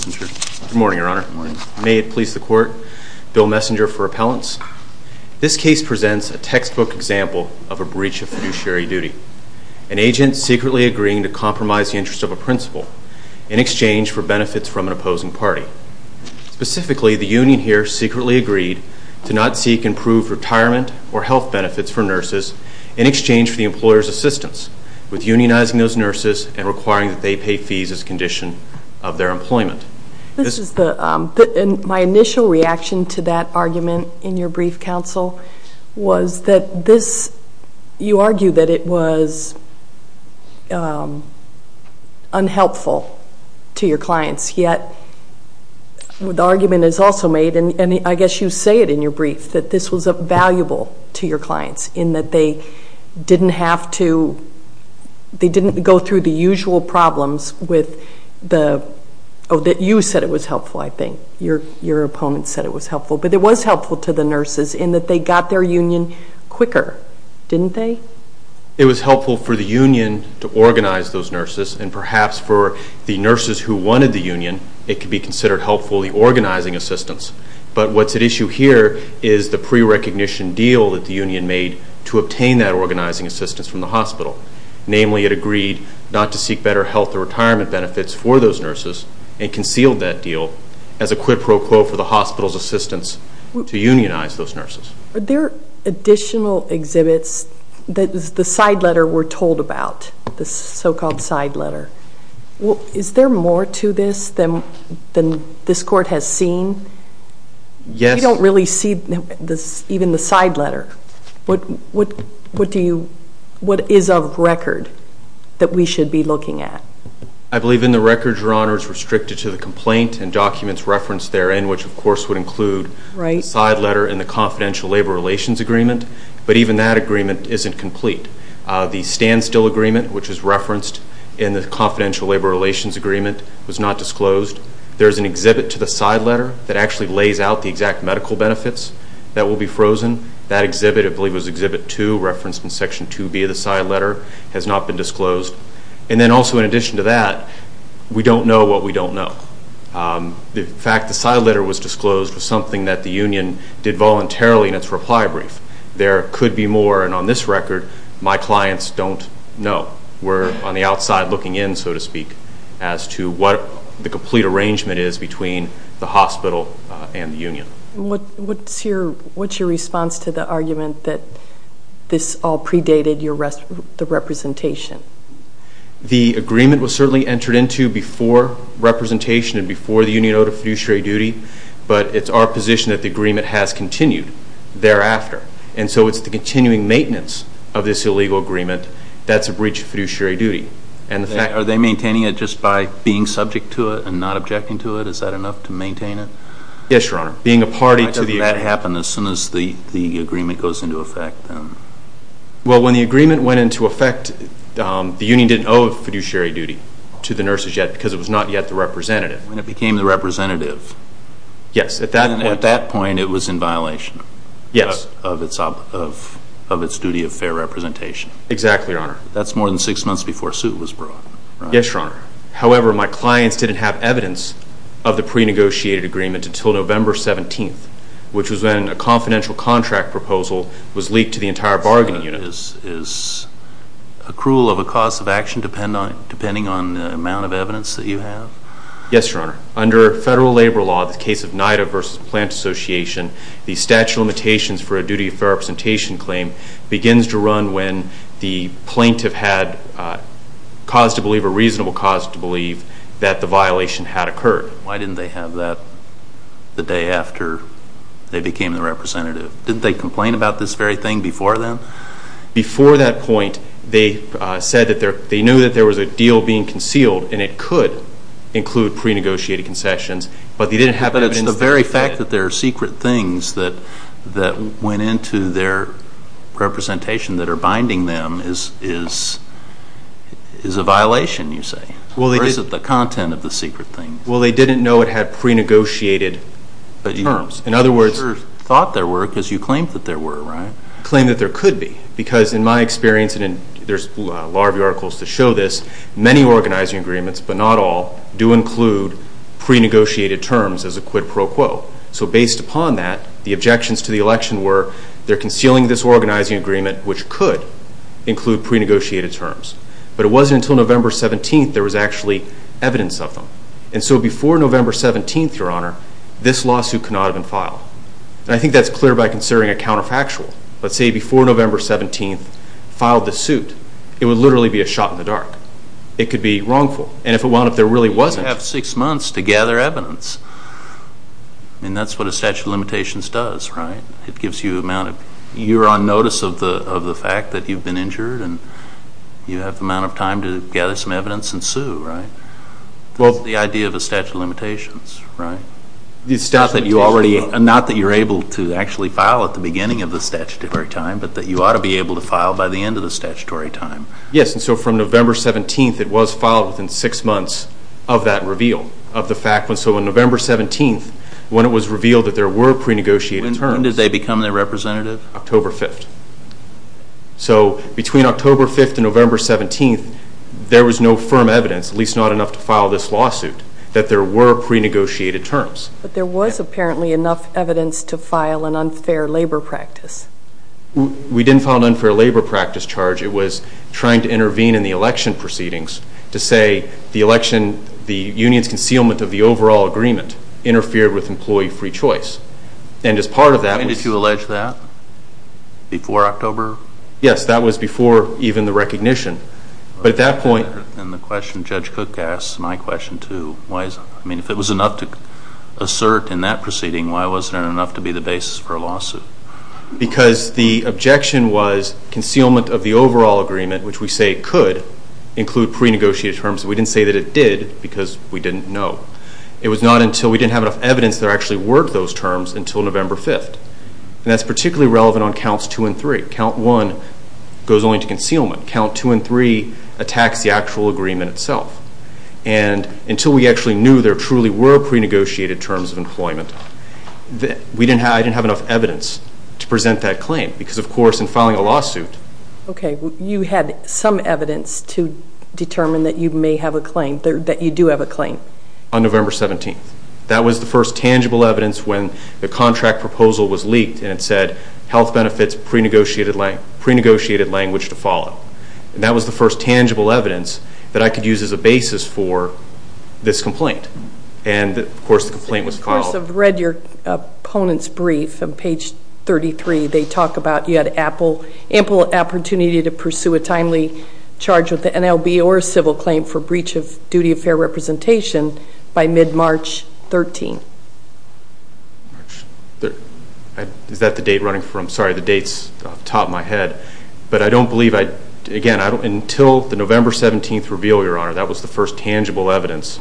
Good morning, Your Honor. May it please the Court, Bill Messinger for Appellants. This case presents a textbook example of a breach of fiduciary duty. An agent secretly agreeing to compromise the interest of a principal in exchange for benefits from an opposing party. Specifically, the union here secretly agreed to not seek improved retirement or health benefits for nurses in exchange for the employer's assistance with unionizing those nurses and requiring that they pay fees as a condition of their employment. My initial reaction to that argument in your brief, counsel, was that this, you argue that it was unhelpful to your clients, yet the argument is also made, and I guess you say it in your brief, that this was valuable to your clients in that they didn't have to, they didn't go through the usual problems with the, oh, that you said it was helpful, I think, your opponent said it was helpful, but it was helpful to the nurses in that they got their union quicker, didn't they? It was helpful for the union to organize those nurses, and perhaps for the nurses who wanted the union, it could be considered helpful, the organizing assistance, but what's at issue here is the pre-recognition deal that the union made to obtain that organizing assistance from the hospital, namely it agreed not to seek better health or retirement benefits for those nurses and concealed that deal as a quid pro quo for the hospital's assistance to unionize those nurses. Are there additional exhibits, the side letter we're told about, the so-called side letter, is there more to this than this court has seen? Yes. We don't really see even the side letter, what do you, what is of record that we should be looking at? I believe in the record, Your Honor, it's restricted to the complaint and documents referenced therein, which of course would include the side letter and the confidential labor relations agreement, but even that agreement isn't complete. The standstill agreement, which is referenced in the confidential labor relations agreement, was not disclosed. There's an exhibit to the side letter that actually lays out the exact medical benefits that will be frozen. That exhibit, I believe it was exhibit two, referenced in section 2B of the side letter, has not been disclosed. And then also in addition to that, we don't know what we don't know. The fact the side letter was disclosed was something that the union did voluntarily in its reply brief. There could be more, and on this record, my clients don't know. We're on the outside looking in, so to speak, as to what the complete arrangement is between the hospital and the union. What's your response to the argument that this all predated the representation? The agreement was certainly entered into before representation and before the union owed a fiduciary duty, but it's our position that the agreement has continued thereafter. And so it's the continuing maintenance of this illegal agreement. That's a breach of fiduciary duty. Are they maintaining it just by being subject to it and not objecting to it? Is that enough to maintain it? Yes, Your Honor. Being a party to the agreement. Why doesn't that happen as soon as the agreement goes into effect? Well when the agreement went into effect, the union didn't owe a fiduciary duty to the nurses yet because it was not yet the representative. When it became the representative. Yes. And at that point it was in violation of its duty of fair representation. Exactly, Your Honor. That's more than six months before a suit was brought, right? Yes, Your Honor. However, my clients didn't have evidence of the pre-negotiated agreement until November 17th, which was when a confidential contract proposal was leaked to the entire bargaining unit. So is accrual of a cause of action depending on the amount of evidence that you have? Yes, Your Honor. Under federal labor law, the case of NIDA v. Plant Association, the statute of limitations for a duty of fair representation claim begins to run when the plaintiff had cause to believe or reasonable cause to believe that the violation had occurred. Why didn't they have that the day after they became the representative? Didn't they complain about this very thing before then? Before that point, they said that they knew that there was a deal being concealed and it could include pre-negotiated concessions, but they didn't have evidence. But it's the very fact that there are secret things that went into their representation that are binding them is a violation, you say, or is it the content of the secret things? Well, they didn't know it had pre-negotiated terms. In other words, But you thought there were, because you claimed that there were, right? Claimed that there could be, because in my experience, and there's a lot of articles to show this, many organizing agreements, but not all, do include pre-negotiated terms as a quid pro quo. So based upon that, the objections to the election were they're concealing this organizing agreement which could include pre-negotiated terms, but it wasn't until November 17th there was actually evidence of them. And so before November 17th, Your Honor, this lawsuit could not have been filed. I think that's clear by considering a counterfactual. Let's say before November 17th, filed the suit, it would literally be a shot in the dark. It could be wrongful. And if it wound up, there really wasn't. You would have six months to gather evidence, and that's what a statute of limitations does, right? It gives you an amount of, you're on notice of the fact that you've been injured, and you have the amount of time to gather some evidence and sue, right? That's the idea of a statute of limitations, right? Not that you're able to actually file at the beginning of the statutory time, but that you ought to be able to file by the end of the statutory time. Yes. And so from November 17th, it was filed within six months of that reveal, of the fact. So on November 17th, when it was revealed that there were pre-negotiated terms. When did they become the representative? October 5th. So between October 5th and November 17th, there was no firm evidence, at least not enough to file this lawsuit, that there were pre-negotiated terms. But there was apparently enough evidence to file an unfair labor practice. We didn't file an unfair labor practice charge. It was trying to intervene in the election proceedings to say the election, the union's concealment of the overall agreement, interfered with employee free choice. And as part of that... And did you allege that before October? Yes, that was before even the recognition. But at that point... And the question Judge Cook asked, my question too, why is it, I mean, if it was enough to assert in that proceeding, why wasn't it enough to be the basis for a lawsuit? Because the objection was concealment of the overall agreement, which we say could include pre-negotiated terms. We didn't say that it did because we didn't know. It was not until we didn't have enough evidence that there actually were those terms until November 5th. And that's particularly relevant on Counts 2 and 3. Count 1 goes only to concealment. Count 2 and 3 attacks the actual agreement itself. And until we actually knew there truly were pre-negotiated terms of employment, I didn't have enough evidence to present that claim. Because of course, in filing a lawsuit... Okay. You had some evidence to determine that you may have a claim, that you do have a claim? On November 17th. That was the first tangible evidence when the contract proposal was leaked and it said health benefits, pre-negotiated language to follow. That was the first tangible evidence that I could use as a basis for this complaint. And of course, the complaint was called... And of course, I've read your opponent's brief on page 33. They talk about you had ample opportunity to pursue a timely charge with the NLB or a civil claim for breach of duty of fair representation by mid-March 13th. Is that the date running from? Sorry, the date's off the top of my head. But I don't believe, again, until the November 17th reveal, Your Honor, that was the first tangible evidence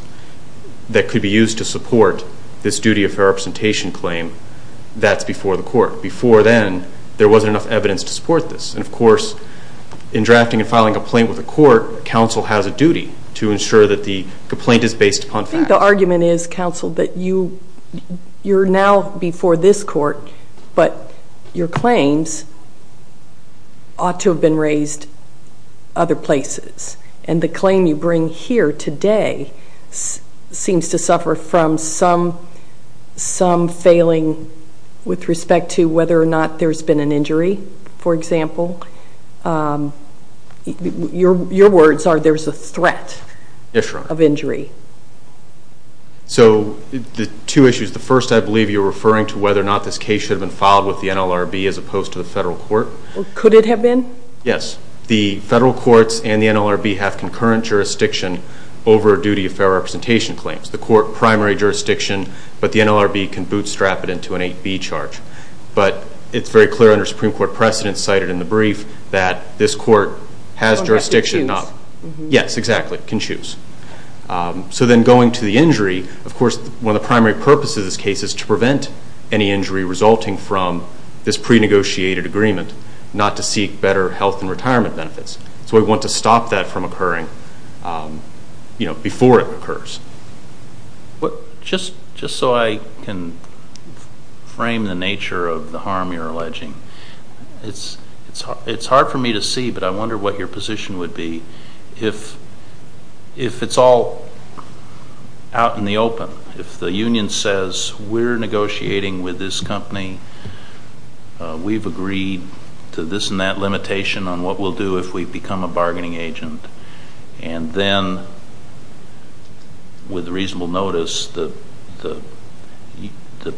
that could be used to support this duty of fair representation claim. That's before the court. Before then, there wasn't enough evidence to support this. And of course, in drafting and filing a complaint with the court, counsel has a duty to ensure that the complaint is based upon facts. I think the argument is, counsel, that you're now before this court, but your claims ought to have been raised other places. And the claim you bring here today seems to suffer from some failing with respect to whether or not there's been an injury, for example. Your words are there's a threat of injury. So the two issues. The first, I believe you're referring to whether or not this case should have been filed with the NLRB as opposed to the federal court. Could it have been? Yes. The federal courts and the NLRB have concurrent jurisdiction over a duty of fair representation claims. The court primary jurisdiction, but the NLRB can bootstrap it into an 8B charge. But it's very clear under Supreme Court precedent cited in the brief that this court has jurisdiction not- Can choose. Yes, exactly. Can choose. So then going to the injury, of course, one of the primary purposes of this case is to prevent any injury resulting from this pre-negotiated agreement. Not to seek better health and retirement benefits. So we want to stop that from occurring before it occurs. Just so I can frame the nature of the harm you're alleging. It's hard for me to see, but I wonder what your position would be if it's all out in the open. If the union says, we're negotiating with this company, we've agreed to this and that limitation on what we'll do if we become a bargaining agent. And then, with reasonable notice, the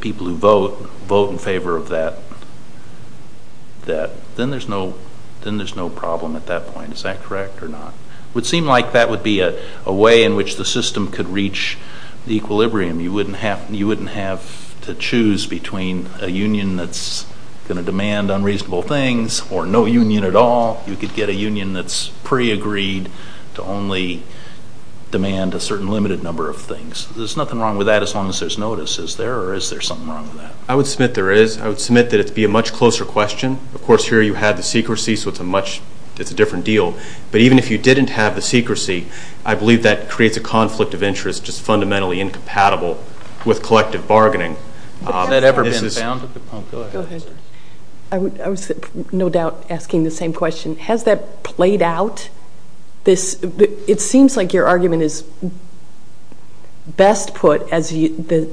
people who vote vote in favor of that. Then there's no problem at that point. Is that correct or not? Would seem like that would be a way in which the system could reach the equilibrium. You wouldn't have to choose between a union that's going to demand unreasonable things or no union at all. You could get a union that's pre-agreed to only demand a certain limited number of things. There's nothing wrong with that as long as there's notice. Is there or is there something wrong with that? I would submit there is. I would submit that it would be a much closer question. Of course, here you have the secrecy, so it's a different deal. But even if you didn't have the secrecy, I believe that creates a conflict of interest just fundamentally incompatible with collective bargaining. Has that ever been found at the pump? Go ahead. I was no doubt asking the same question. Has that played out? It seems like your argument is best put as the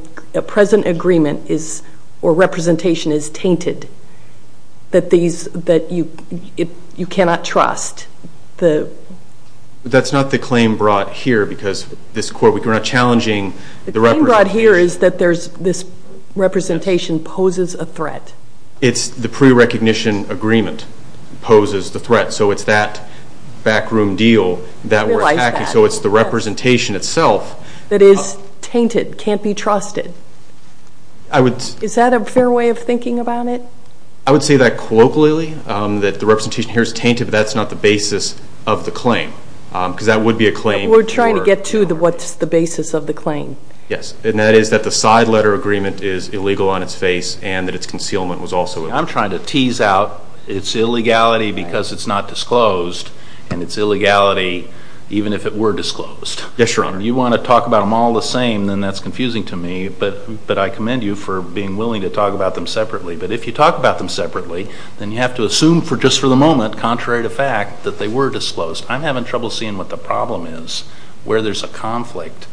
present agreement is or representation is tainted, that you cannot trust. That's not the claim brought here because this court, we're not challenging the representation. The claim brought here is that this representation poses a threat. It's the pre-recognition agreement poses the threat. So it's that backroom deal that we're attacking. So it's the representation itself. That is tainted, can't be trusted. Is that a fair way of thinking about it? I would say that colloquially, that the representation here is tainted, but that's not the basis of the claim. Because that would be a claim. We're trying to get to what's the basis of the claim. Yes. And that is that the side letter agreement is illegal on its face and that its concealment was also illegal. I'm trying to tease out its illegality because it's not disclosed and its illegality even if it were disclosed. Yes, Your Honor. You want to talk about them all the same, then that's confusing to me, but I commend you for being willing to talk about them separately. But if you talk about them separately, then you have to assume just for the moment, contrary to fact, that they were disclosed. I'm having trouble seeing what the problem is, where there's a conflict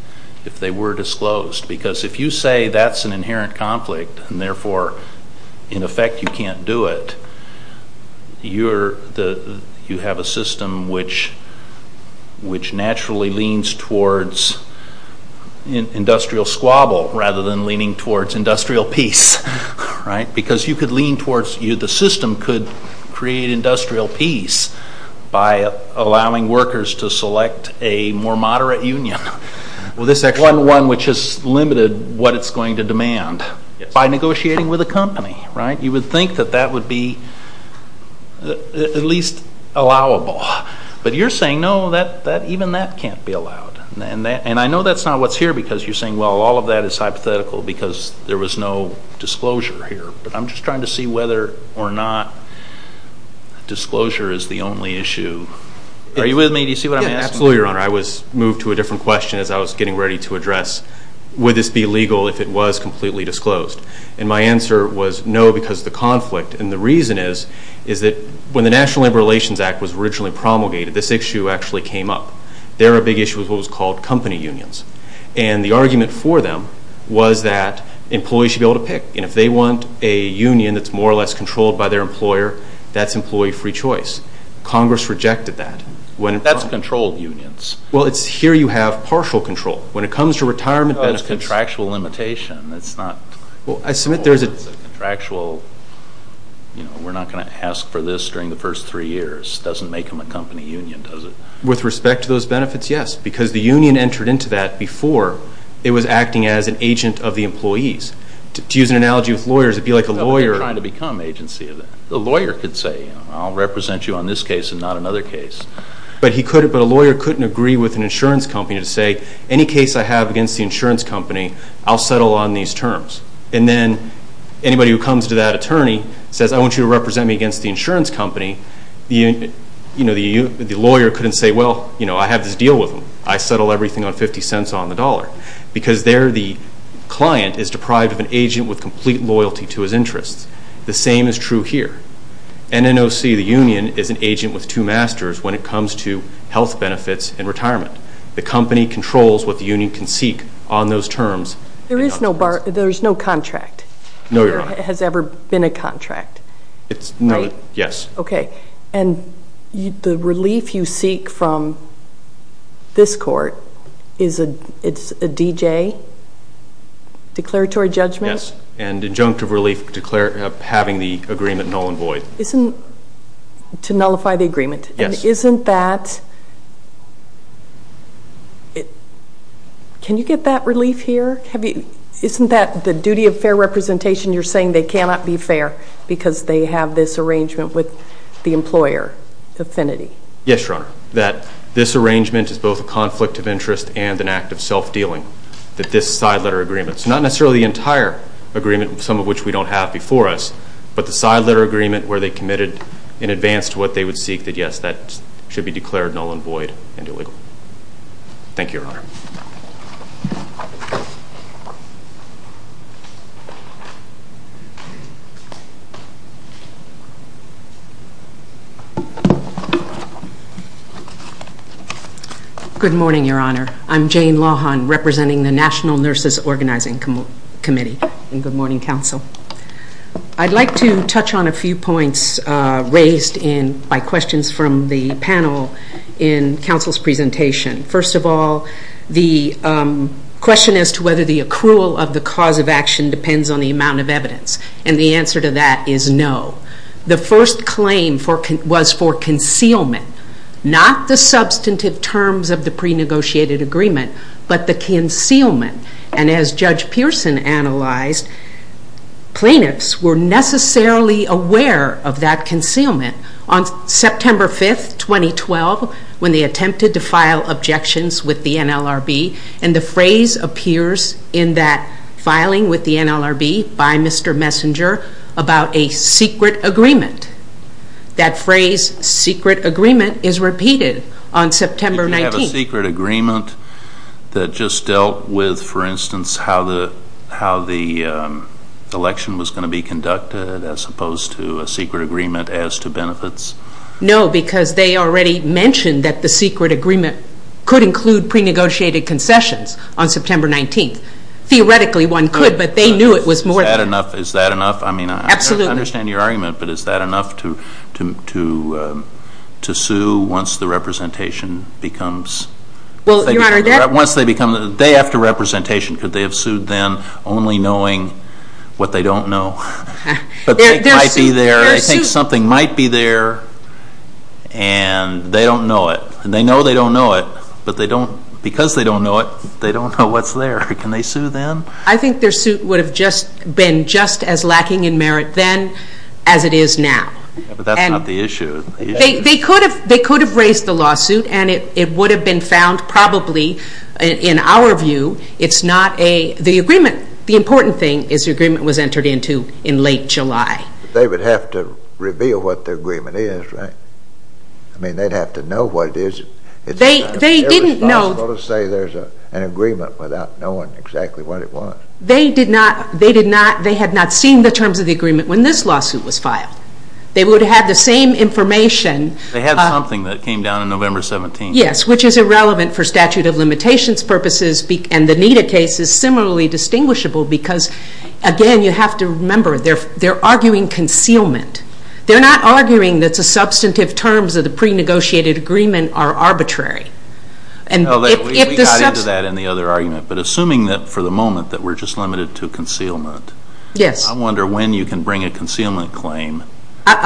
if they were disclosed. Because if you say that's an inherent conflict and therefore, in effect, you can't do it, you have a system which naturally leans towards industrial squabble rather than leaning towards industrial peace, right? Because you could lean towards, the system could create industrial peace by allowing workers to select a more moderate union, one which has limited what it's going to demand by negotiating with a company, right? You would think that that would be at least allowable. But you're saying, no, even that can't be allowed. And I know that's not what's here because you're saying, well, all of that is hypothetical because there was no disclosure here. But I'm just trying to see whether or not disclosure is the only issue. Are you with me? Do you see what I'm asking? Yeah, absolutely, Your Honor. I was moved to a different question as I was getting ready to address, would this be legal if it was completely disclosed? And my answer was, no, because of the conflict. And the reason is, is that when the National Labor Relations Act was originally promulgated, this issue actually came up. There a big issue with what was called company unions. And the argument for them was that employees should be able to pick. And if they want a union that's more or less controlled by their employer, that's employee free choice. Congress rejected that. That's controlled unions. Well, it's here you have partial control. When it comes to retirement benefits. It's a contractual limitation. It's not. Well, I submit there's a. It's a contractual, you know, we're not going to ask for this during the first three years. Doesn't make them a company union, does it? With respect to those benefits, yes. Because the union entered into that before it was acting as an agent of the employees. To use an analogy with lawyers, it'd be like a lawyer. No, they're trying to become agency of that. The lawyer could say, you know, I'll represent you on this case and not another case. But he couldn't, but a lawyer couldn't agree with an insurance company to say, any case I have against the insurance company, I'll settle on these terms. And then anybody who comes to that attorney says, I want you to represent me against the insurance company, you know, the lawyer couldn't say, well, you know, I have this deal with them. I settle everything on 50 cents on the dollar. Because there the client is deprived of an agent with complete loyalty to his interests. The same is true here. NNOC, the union, is an agent with two masters when it comes to health benefits and retirement. The company controls what the union can seek on those terms. There is no bar, there's no contract. No, Your Honor. There has ever been a contract. It's no, yes. Okay. And the relief you seek from this court is a, it's a DJ, declaratory judgment? Yes. And injunctive relief, having the agreement null and void. Isn't, to nullify the agreement. Yes. Isn't that, can you get that relief here? Have you, isn't that the duty of fair representation? You're saying they cannot be fair because they have this arrangement with the employer affinity? Yes, Your Honor. That this arrangement is both a conflict of interest and an act of self-dealing. That this side letter agreement, it's not necessarily the entire agreement, some of which we don't have before us, but the side letter agreement where they committed in advance to what they would seek, that yes, that should be declared null and void and illegal. Thank you, Your Honor. Good morning, Your Honor. I'm Jane Lawhon, representing the National Nurses Organizing Committee in Good Morning Council. I'd like to touch on a few points raised in, by questions from the panel in counsel's presentation. First of all, the question as to whether the accrual of the cause of action depends on the amount of evidence, and the answer to that is no. The first claim for, was for concealment. Not the substantive terms of the pre-negotiated agreement, but the concealment. And as Judge Pearson analyzed, plaintiffs were necessarily aware of that concealment. On September 5th, 2012, when they attempted to file objections with the NLRB, and the phrase appears in that filing with the NLRB by Mr. Messenger about a secret agreement. That phrase, secret agreement, is repeated on September 19th. A secret agreement that just dealt with, for instance, how the election was going to be conducted, as opposed to a secret agreement as to benefits? No, because they already mentioned that the secret agreement could include pre-negotiated concessions on September 19th. Theoretically one could, but they knew it was more than that. Is that enough? I mean, I understand your argument, but is that enough to sue once the representation becomes, once they become, the day after representation, could they have sued then, only knowing what they don't know? But they might be there, I think something might be there, and they don't know it. They know they don't know it, but they don't, because they don't know it, they don't know what's there. Can they sue then? I think their suit would have just been just as lacking in merit then as it is now. But that's not the issue. They could have raised the lawsuit, and it would have been found probably, in our view, it's not a, the agreement, the important thing is the agreement was entered into in late July. They would have to reveal what the agreement is, right? I mean, they'd have to know what it is. They didn't know. It's irresponsible to say there's an agreement without knowing exactly what it was. They did not, they did not, they had not seen the terms of the agreement when this lawsuit was filed. They would have the same information. They had something that came down on November 17th. Yes, which is irrelevant for statute of limitations purposes, and the NIDA case is similarly distinguishable because again, you have to remember, they're arguing concealment. They're not arguing that the substantive terms of the pre-negotiated agreement are arbitrary. And if the substantive... We got into that in the other argument, but assuming that for the moment that we're just I'll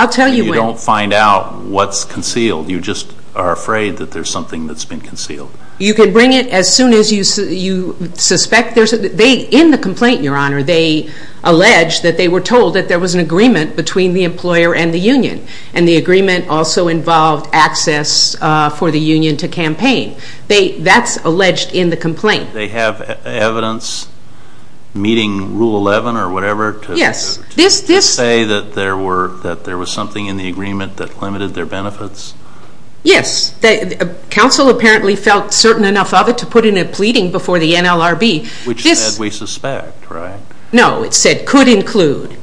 tell you when. You don't find out what's concealed. You just are afraid that there's something that's been concealed. You can bring it as soon as you suspect there's, they, in the complaint, your honor, they allege that they were told that there was an agreement between the employer and the union. And the agreement also involved access for the union to campaign. That's alleged in the complaint. They have evidence meeting rule 11 or whatever to say that there were, that there was something in the agreement that limited their benefits? Yes. Counsel apparently felt certain enough of it to put in a pleading before the NLRB. Which said we suspect, right? No, it said could include.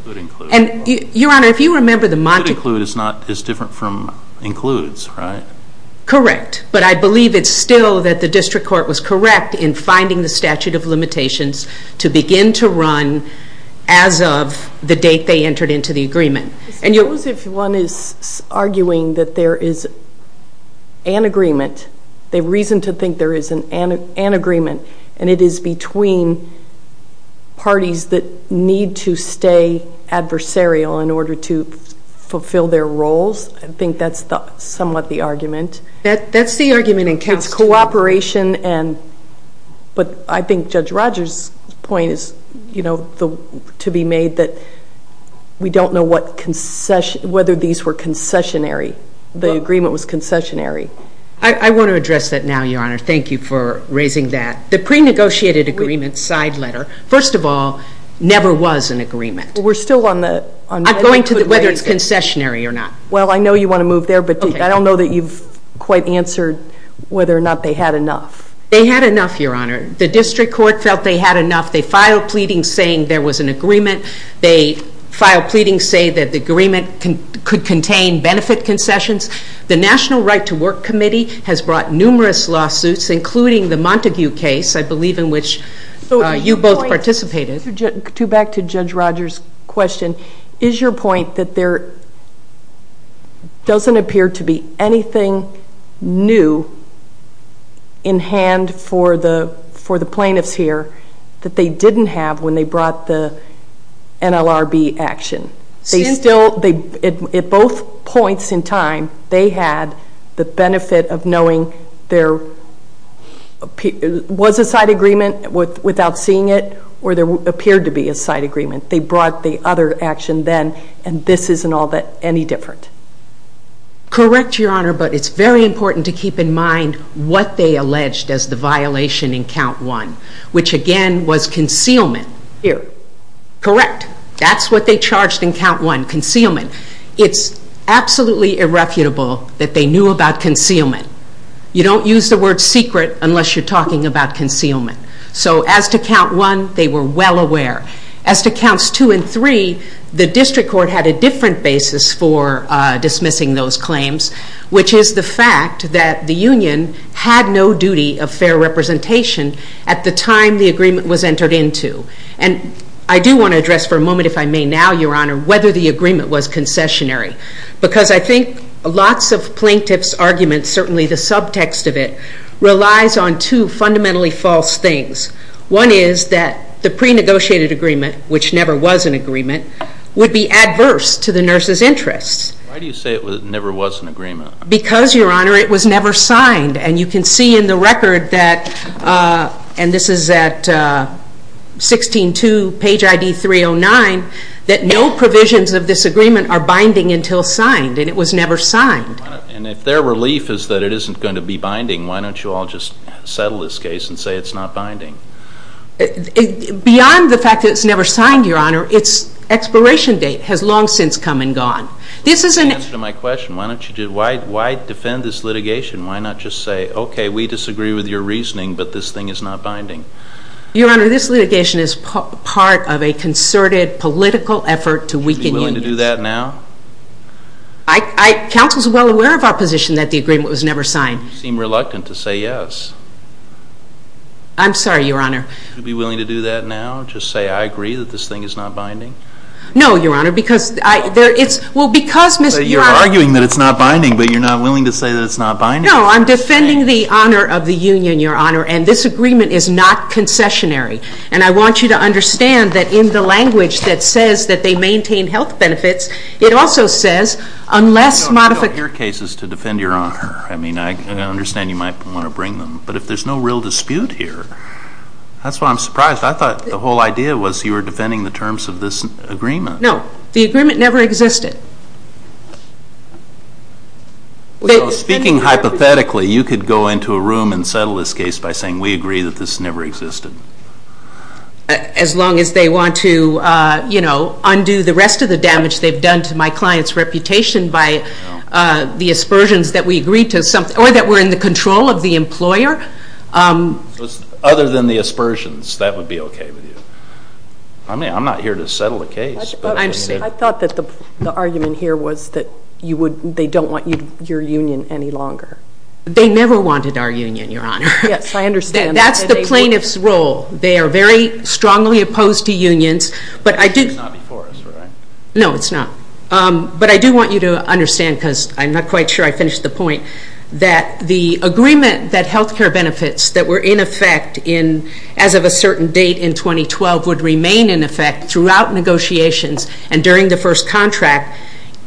And your honor, if you remember the Montague... Could include is not, is different from includes, right? Correct. But I believe it's still that the district court was correct in finding the statute of limitations to begin to run as of the date they entered into the agreement. And you... Suppose if one is arguing that there is an agreement, the reason to think there is an agreement and it is between parties that need to stay adversarial in order to fulfill their roles. I think that's somewhat the argument. That's the argument in counsel. It's cooperation and, but I think Judge Rogers point is, you know, to be made that we don't know what concession, whether these were concessionary. The agreement was concessionary. I want to address that now, your honor. Thank you for raising that. The pre-negotiated agreement side letter, first of all, never was an agreement. We're still on the... I'm going to whether it's concessionary or not. Well, I know you want to move there, but I don't know that you've quite answered whether or not they had enough. They had enough, your honor. The district court felt they had enough. They filed pleadings saying there was an agreement. They filed pleadings saying that the agreement could contain benefit concessions. The National Right to Work Committee has brought numerous lawsuits, including the Montague case, I believe in which you both participated. To back to Judge Rogers' question, is your point that there doesn't appear to be anything new in hand for the plaintiffs here that they didn't have when they brought the NLRB action? At both points in time, they had the benefit of knowing there was a side agreement without seeing it, or there appeared to be a side agreement. They brought the other action then, and this isn't all that any different. Correct, your honor, but it's very important to keep in mind what they alleged as the violation in count one, which again was concealment. Here. Correct. That's what they charged in count one, concealment. It's absolutely irrefutable that they knew about concealment. You don't use the word secret unless you're talking about concealment. So as to count one, they were well aware. As to counts two and three, the district court had a different basis for dismissing those claims, which is the fact that the union had no duty of fair representation at the time the agreement was entered into. And I do want to address for a moment, if I may now, your honor, whether the agreement was concessionary. Because I think lots of plaintiffs' arguments, certainly the subtext of it, relies on two fundamentally false things. One is that the pre-negotiated agreement, which never was an agreement, would be adverse to the nurse's interests. Why do you say it never was an agreement? Because your honor, it was never signed. And you can see in the record that, and this is at 16-2, page ID 309, that no provisions of this agreement are binding until signed, and it was never signed. And if their relief is that it isn't going to be binding, why don't you all just settle this case and say it's not binding? Beyond the fact that it's never signed, your honor, its expiration date has long since come and gone. This is an answer to my question. Why don't you, why defend this litigation? Why not just say, okay, we disagree with your reasoning, but this thing is not binding? Your honor, this litigation is part of a concerted political effort to weaken unions. Would you be willing to do that now? Counsel's well aware of our position that the agreement was never signed. Why do you seem reluctant to say yes? I'm sorry, your honor. Would you be willing to do that now? Just say, I agree that this thing is not binding? No, your honor, because I, there, it's, well, because Ms. You're arguing that it's not binding, but you're not willing to say that it's not binding. No, I'm defending the honor of the union, your honor, and this agreement is not concessionary. And I want you to understand that in the language that says that they maintain health benefits, it also says, unless This modification Your case is to defend your honor. I mean, I understand you might want to bring them, but if there's no real dispute here, that's why I'm surprised. I thought the whole idea was you were defending the terms of this agreement. No. The agreement never existed. Well, speaking hypothetically, you could go into a room and settle this case by saying, we agree that this never existed. As long as they want to, you know, undo the rest of the damage they've done to my client's reputation by the aspersions that we agreed to something, or that we're in the control of the employer. Other than the aspersions, that would be okay with you? I mean, I'm not here to settle a case, but I'm saying I thought that the argument here was that you would, they don't want your union any longer. They never wanted our union, your honor. Yes, I understand. That's the plaintiff's role. They are very strongly opposed to unions. But I did It's not before us, right? No, it's not. But I do want you to understand, because I'm not quite sure I finished the point, that the agreement that health care benefits that were in effect in, as of a certain date in 2012, would remain in effect throughout negotiations and during the first contract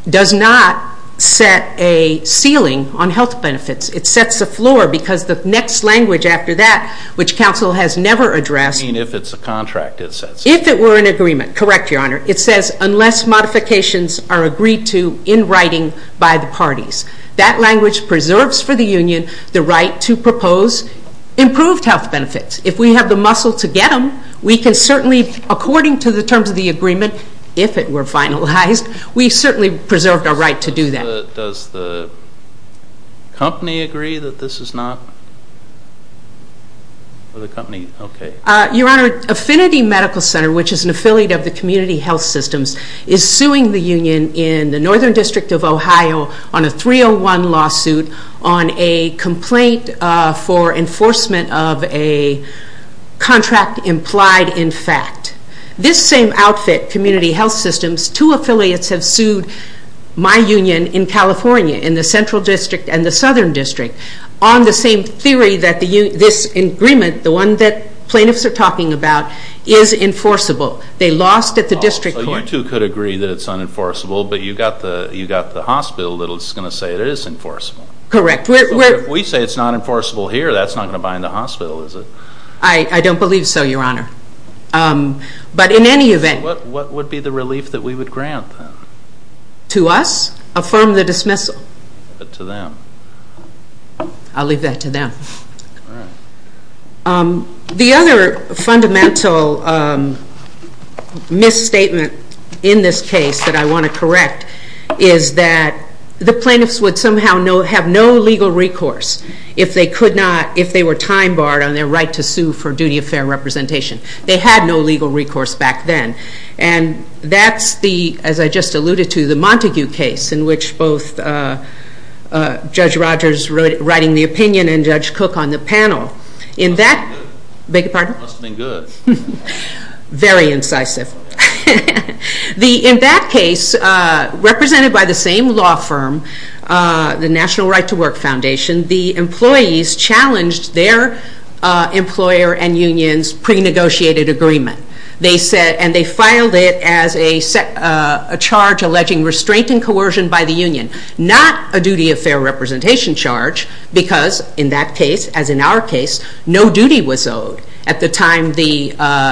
does not set a ceiling on health benefits. It sets a floor because the next language after that, which counsel has never addressed I mean, if it's a contract, it sets a floor. If it were an agreement, correct, your honor. It says unless modifications are agreed to in writing by the parties. That language preserves for the union the right to propose improved health benefits. If we have the muscle to get them, we can certainly, according to the terms of the agreement, if it were finalized, we certainly preserved our right to do that. Does the company agree that this is not, or the company, okay. Your honor, Affinity Medical Center, which is an affiliate of the Community Health Systems, is suing the union in the Northern District of Ohio on a 301 lawsuit on a complaint for enforcement of a contract implied in fact. This same outfit, Community Health Systems, two affiliates have sued my union in California, in the Central District and the Southern District, on the same theory that this agreement, the one that plaintiffs are talking about, is enforceable. They lost at the district court. So you two could agree that it's unenforceable, but you got the hospital that's going to say it is enforceable. Correct. So if we say it's not enforceable here, that's not going to bind the hospital, is it? I don't believe so, your honor. But in any event. So what would be the relief that we would grant then? To us? Affirm the dismissal. But to them? I'll leave that to them. All right. The other fundamental misstatement in this case that I want to correct is that the plaintiffs would somehow have no legal recourse if they could not, if they were time barred on their right to sue for duty of fair representation. They had no legal recourse back then. And that's the, as I just alluded to, the Montague case in which both Judge Rogers writing the opinion and Judge Cook on the panel. In that. Must have been good. Beg your pardon? Must have been good. Very incisive. In that case, represented by the same law firm, the National Right to Work Foundation, the employees challenged their employer and union's pre-negotiated agreement. They said, and they filed it as a charge alleging restraint and coercion by the union, not a because, in that case, as in our case, no duty was owed at the time the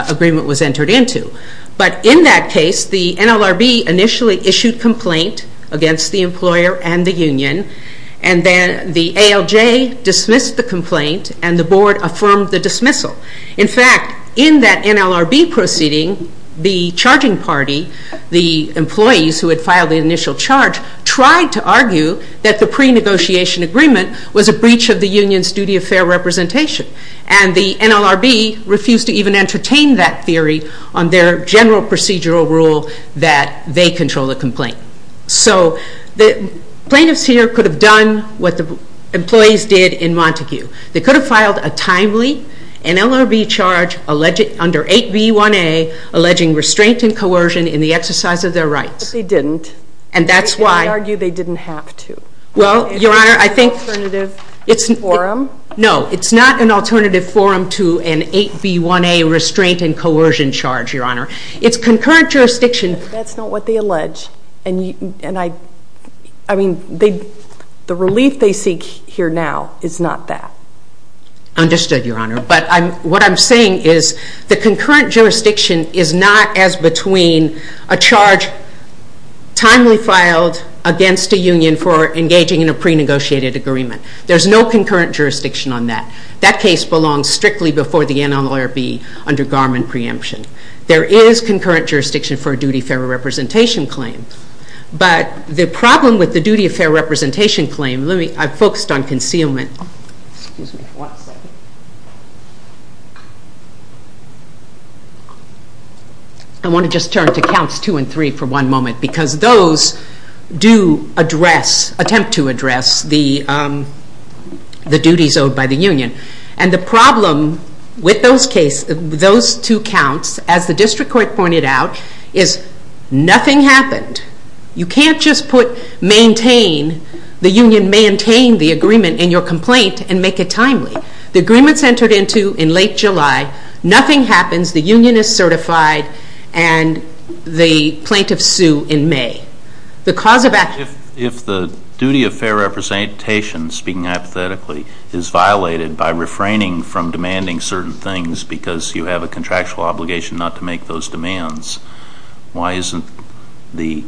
agreement was entered into. But in that case, the NLRB initially issued complaint against the employer and the union and then the ALJ dismissed the complaint and the board affirmed the dismissal. In fact, in that NLRB proceeding, the charging party, the employees who had filed the initial charge, tried to argue that the pre-negotiation agreement was a breach of the union's duty of fair representation. And the NLRB refused to even entertain that theory on their general procedural rule that they control the complaint. So the plaintiffs here could have done what the employees did in Montague. They could have filed a timely NLRB charge under 8B1A alleging restraint and coercion in the exercise of their rights. But they didn't. And that's why... And they argued they didn't have to. Well, Your Honor, I think... It's an alternative forum. No, it's not an alternative forum to an 8B1A restraint and coercion charge, Your Honor. It's concurrent jurisdiction... That's not what they allege. And I mean, the relief they seek here now is not that. Understood, Your Honor. But what I'm saying is the concurrent jurisdiction is not as between a charge timely filed against a union for engaging in a pre-negotiated agreement. There's no concurrent jurisdiction on that. That case belongs strictly before the NLRB under Garmin preemption. There is concurrent jurisdiction for a duty of fair representation claim. But the problem with the duty of fair representation claim... I've focused on concealment. I want to just turn to counts two and three for one moment because those do address, attempt to address, the duties owed by the union. And the problem with those two counts, as the district court pointed out, is nothing happened. You can't just put maintain, the union maintain the agreement in your complaint and make it timely. The agreement's entered into in late July. Nothing happens. The union is certified and the plaintiff sue in May. The cause of action... If the duty of fair representation, speaking hypothetically, is violated by refraining from demanding certain things because you have a contractual obligation not to make those demands, why isn't the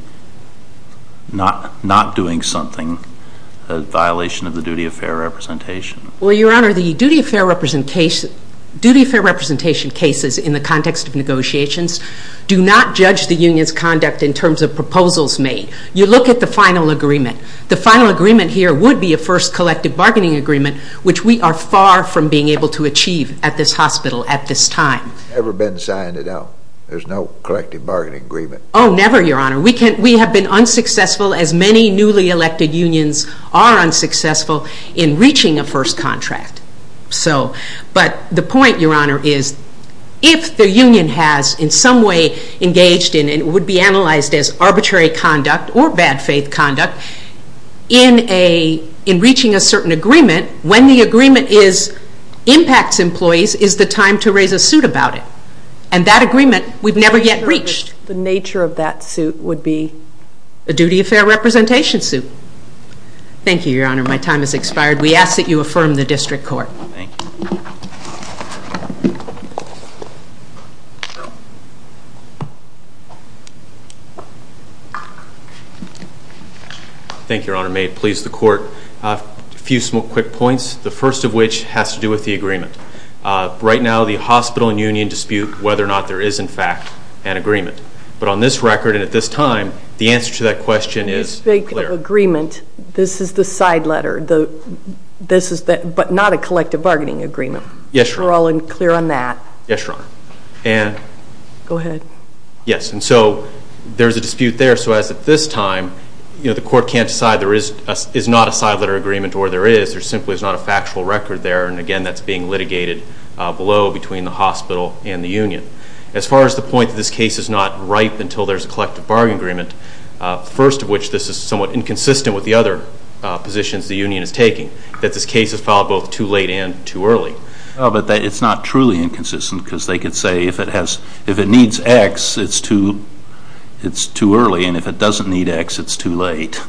not doing something a violation of the duty of fair representation? Well, your honor, the duty of fair representation cases in the context of negotiations do not judge the union's conduct in terms of proposals made. You look at the final agreement. The final agreement here would be a first collective bargaining agreement, which we are far from being able to achieve at this hospital at this time. Never been signed it out. There's no collective bargaining agreement. Oh, never, your honor. We have been unsuccessful, as many newly elected unions are unsuccessful, in reaching a first contract. But the point, your honor, is if the union has in some way engaged in, and it would be analyzed as arbitrary conduct or bad faith conduct, in reaching a certain agreement, when the agreement impacts employees is the time to raise a suit about it. And that agreement we've never yet reached. The nature of that suit would be? A duty of fair representation suit. Thank you, your honor. My time has expired. We ask that you affirm the district court. Thank you, your honor. May it please the court. A few small quick points. The first of which has to do with the agreement. Right now, the hospital and union dispute whether or not there is in fact an agreement. But on this record and at this time, the answer to that question is clear. When you speak of agreement, this is the side letter. This is the, but not a collective bargaining agreement. Yes, your honor. We're all clear on that. Yes, your honor. And. Go ahead. Yes. And so, there's a dispute there. So, as at this time, you know, the court can't decide there is not a side letter agreement or there is. There simply is not a factual record there. And again, that's being litigated below between the hospital and the union. As far as the point that this case is not ripe until there's a collective bargaining agreement, first of which this is somewhat inconsistent with the other positions the union is taking, that this case is filed both too late and too early. Oh, but it's not truly inconsistent because they could say if it has, if it needs X, it's too, it's too early. And if it doesn't need X, it's too late.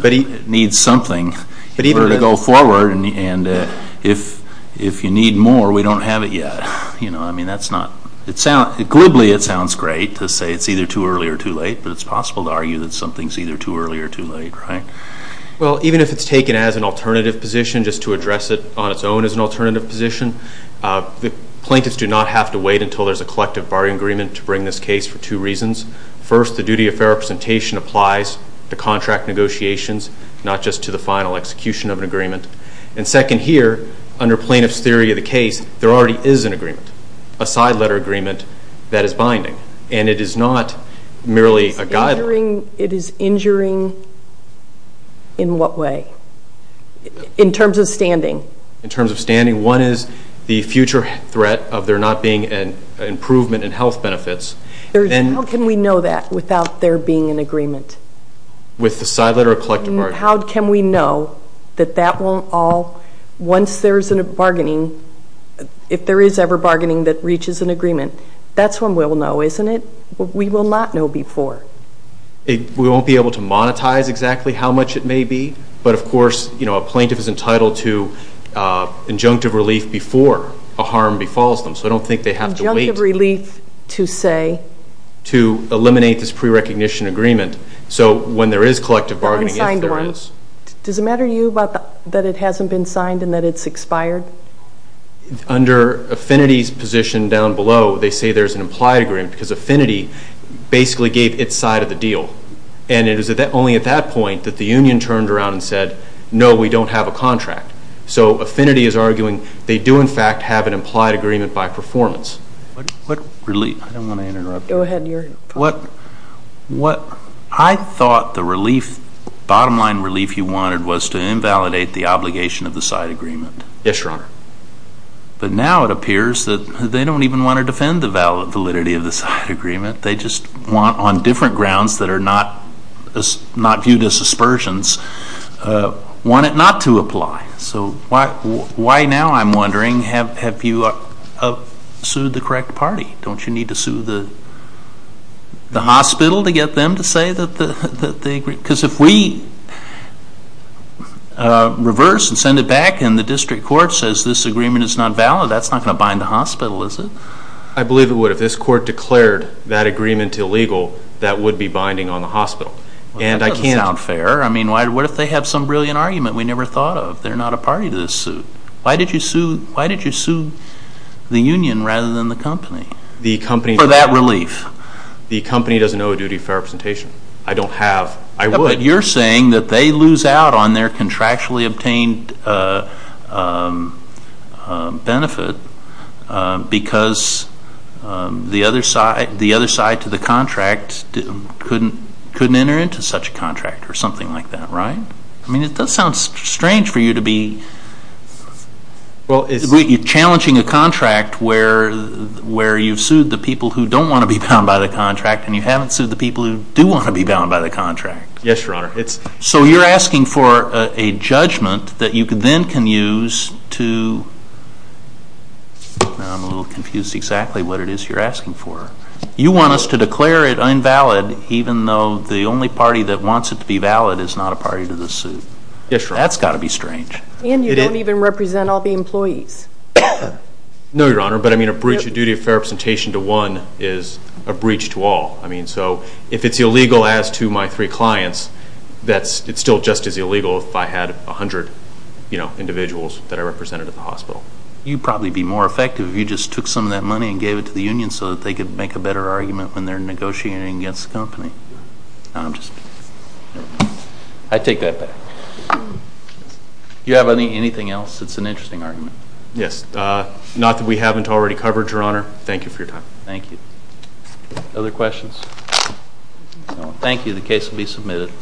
But it needs something for it to go forward. And if you need more, we don't have it yet. You know, I mean, that's not, it sounds, glibly it sounds great to say it's either too early or too late. But it's possible to argue that something's either too early or too late, right? Well, even if it's taken as an alternative position, just to address it on its own as an alternative position, the plaintiffs do not have to wait until there's a collective bargaining agreement to bring this case for two reasons. First, the duty of fair representation applies to contract negotiations, not just to the final execution of an agreement. And second here, under plaintiff's theory of the case, there already is an agreement, a side letter agreement that is binding. And it is not merely a guideline. It is injuring, in what way? In terms of standing. In terms of standing. One is the future threat of there not being an improvement in health benefits. How can we know that without there being an agreement? With the side letter or collective bargaining? How can we know that that won't all, once there's a bargaining, if there is ever bargaining that reaches an agreement, that's when we'll know, isn't it? We will not know before. We won't be able to monetize exactly how much it may be, but of course, you know, a plaintiff is entitled to injunctive relief before a harm befalls them. So I don't think they have to wait. Injunctive relief to say? To eliminate this pre-recognition agreement. So when there is collective bargaining, if there is. Does it matter to you that it hasn't been signed and that it's expired? Under Affinity's position down below, they say there's an implied agreement because Affinity basically gave its side of the deal. And it was only at that point that the union turned around and said, no, we don't have a contract. So Affinity is arguing they do, in fact, have an implied agreement by performance. What relief? I don't want to interrupt you. Go ahead. What? What? I thought the relief, bottom line relief you wanted was to invalidate the obligation of the side agreement. Yes, Your Honor. But now it appears that they don't even want to defend the validity of the side agreement. They just want, on different grounds that are not viewed as aspersions, want it not to apply. So why now, I'm wondering, have you sued the correct party? Don't you need to sue the hospital to get them to say that they agree? Because if we reverse and send it back and the district court says this agreement is not valid, that's not going to bind the hospital, is it? I believe it would. If this court declared that agreement illegal, that would be binding on the hospital. And I can't... That doesn't sound fair. I mean, what if they have some brilliant argument? We never thought of. They're not a party to this suit. Why did you sue the union rather than the company for that relief? The company doesn't owe a duty of fair representation. I don't have. I would. But you're saying that they lose out on their contractually obtained benefit because the other side to the contract couldn't enter into such a contract or something like that, right? I mean, it does sound strange for you to be challenging a contract where you've sued the people who don't want to be bound by the contract and you haven't sued the people who do want to be bound by the contract. Yes, Your Honor. It's... So you're asking for a judgment that you then can use to, now I'm a little confused exactly what it is you're asking for. You want us to declare it invalid even though the only party that wants it to be valid is not a party to the suit. Yes, Your Honor. That's got to be strange. And you don't even represent all the employees. No, Your Honor. But I mean, a breach of duty of fair representation to one is a breach to all. I mean, so if it's illegal as to my three clients, it's still just as illegal if I had a hundred individuals that I represented at the hospital. You'd probably be more effective if you just took some of that money and gave it to the union so that they could make a better argument when they're negotiating against the company. I'm just... I take that back. Do you have anything else? It's an interesting argument. Yes. Not that we haven't already covered, Your Honor. Thank you for your time. Thank you. Other questions? No. Thank you. The case will be submitted.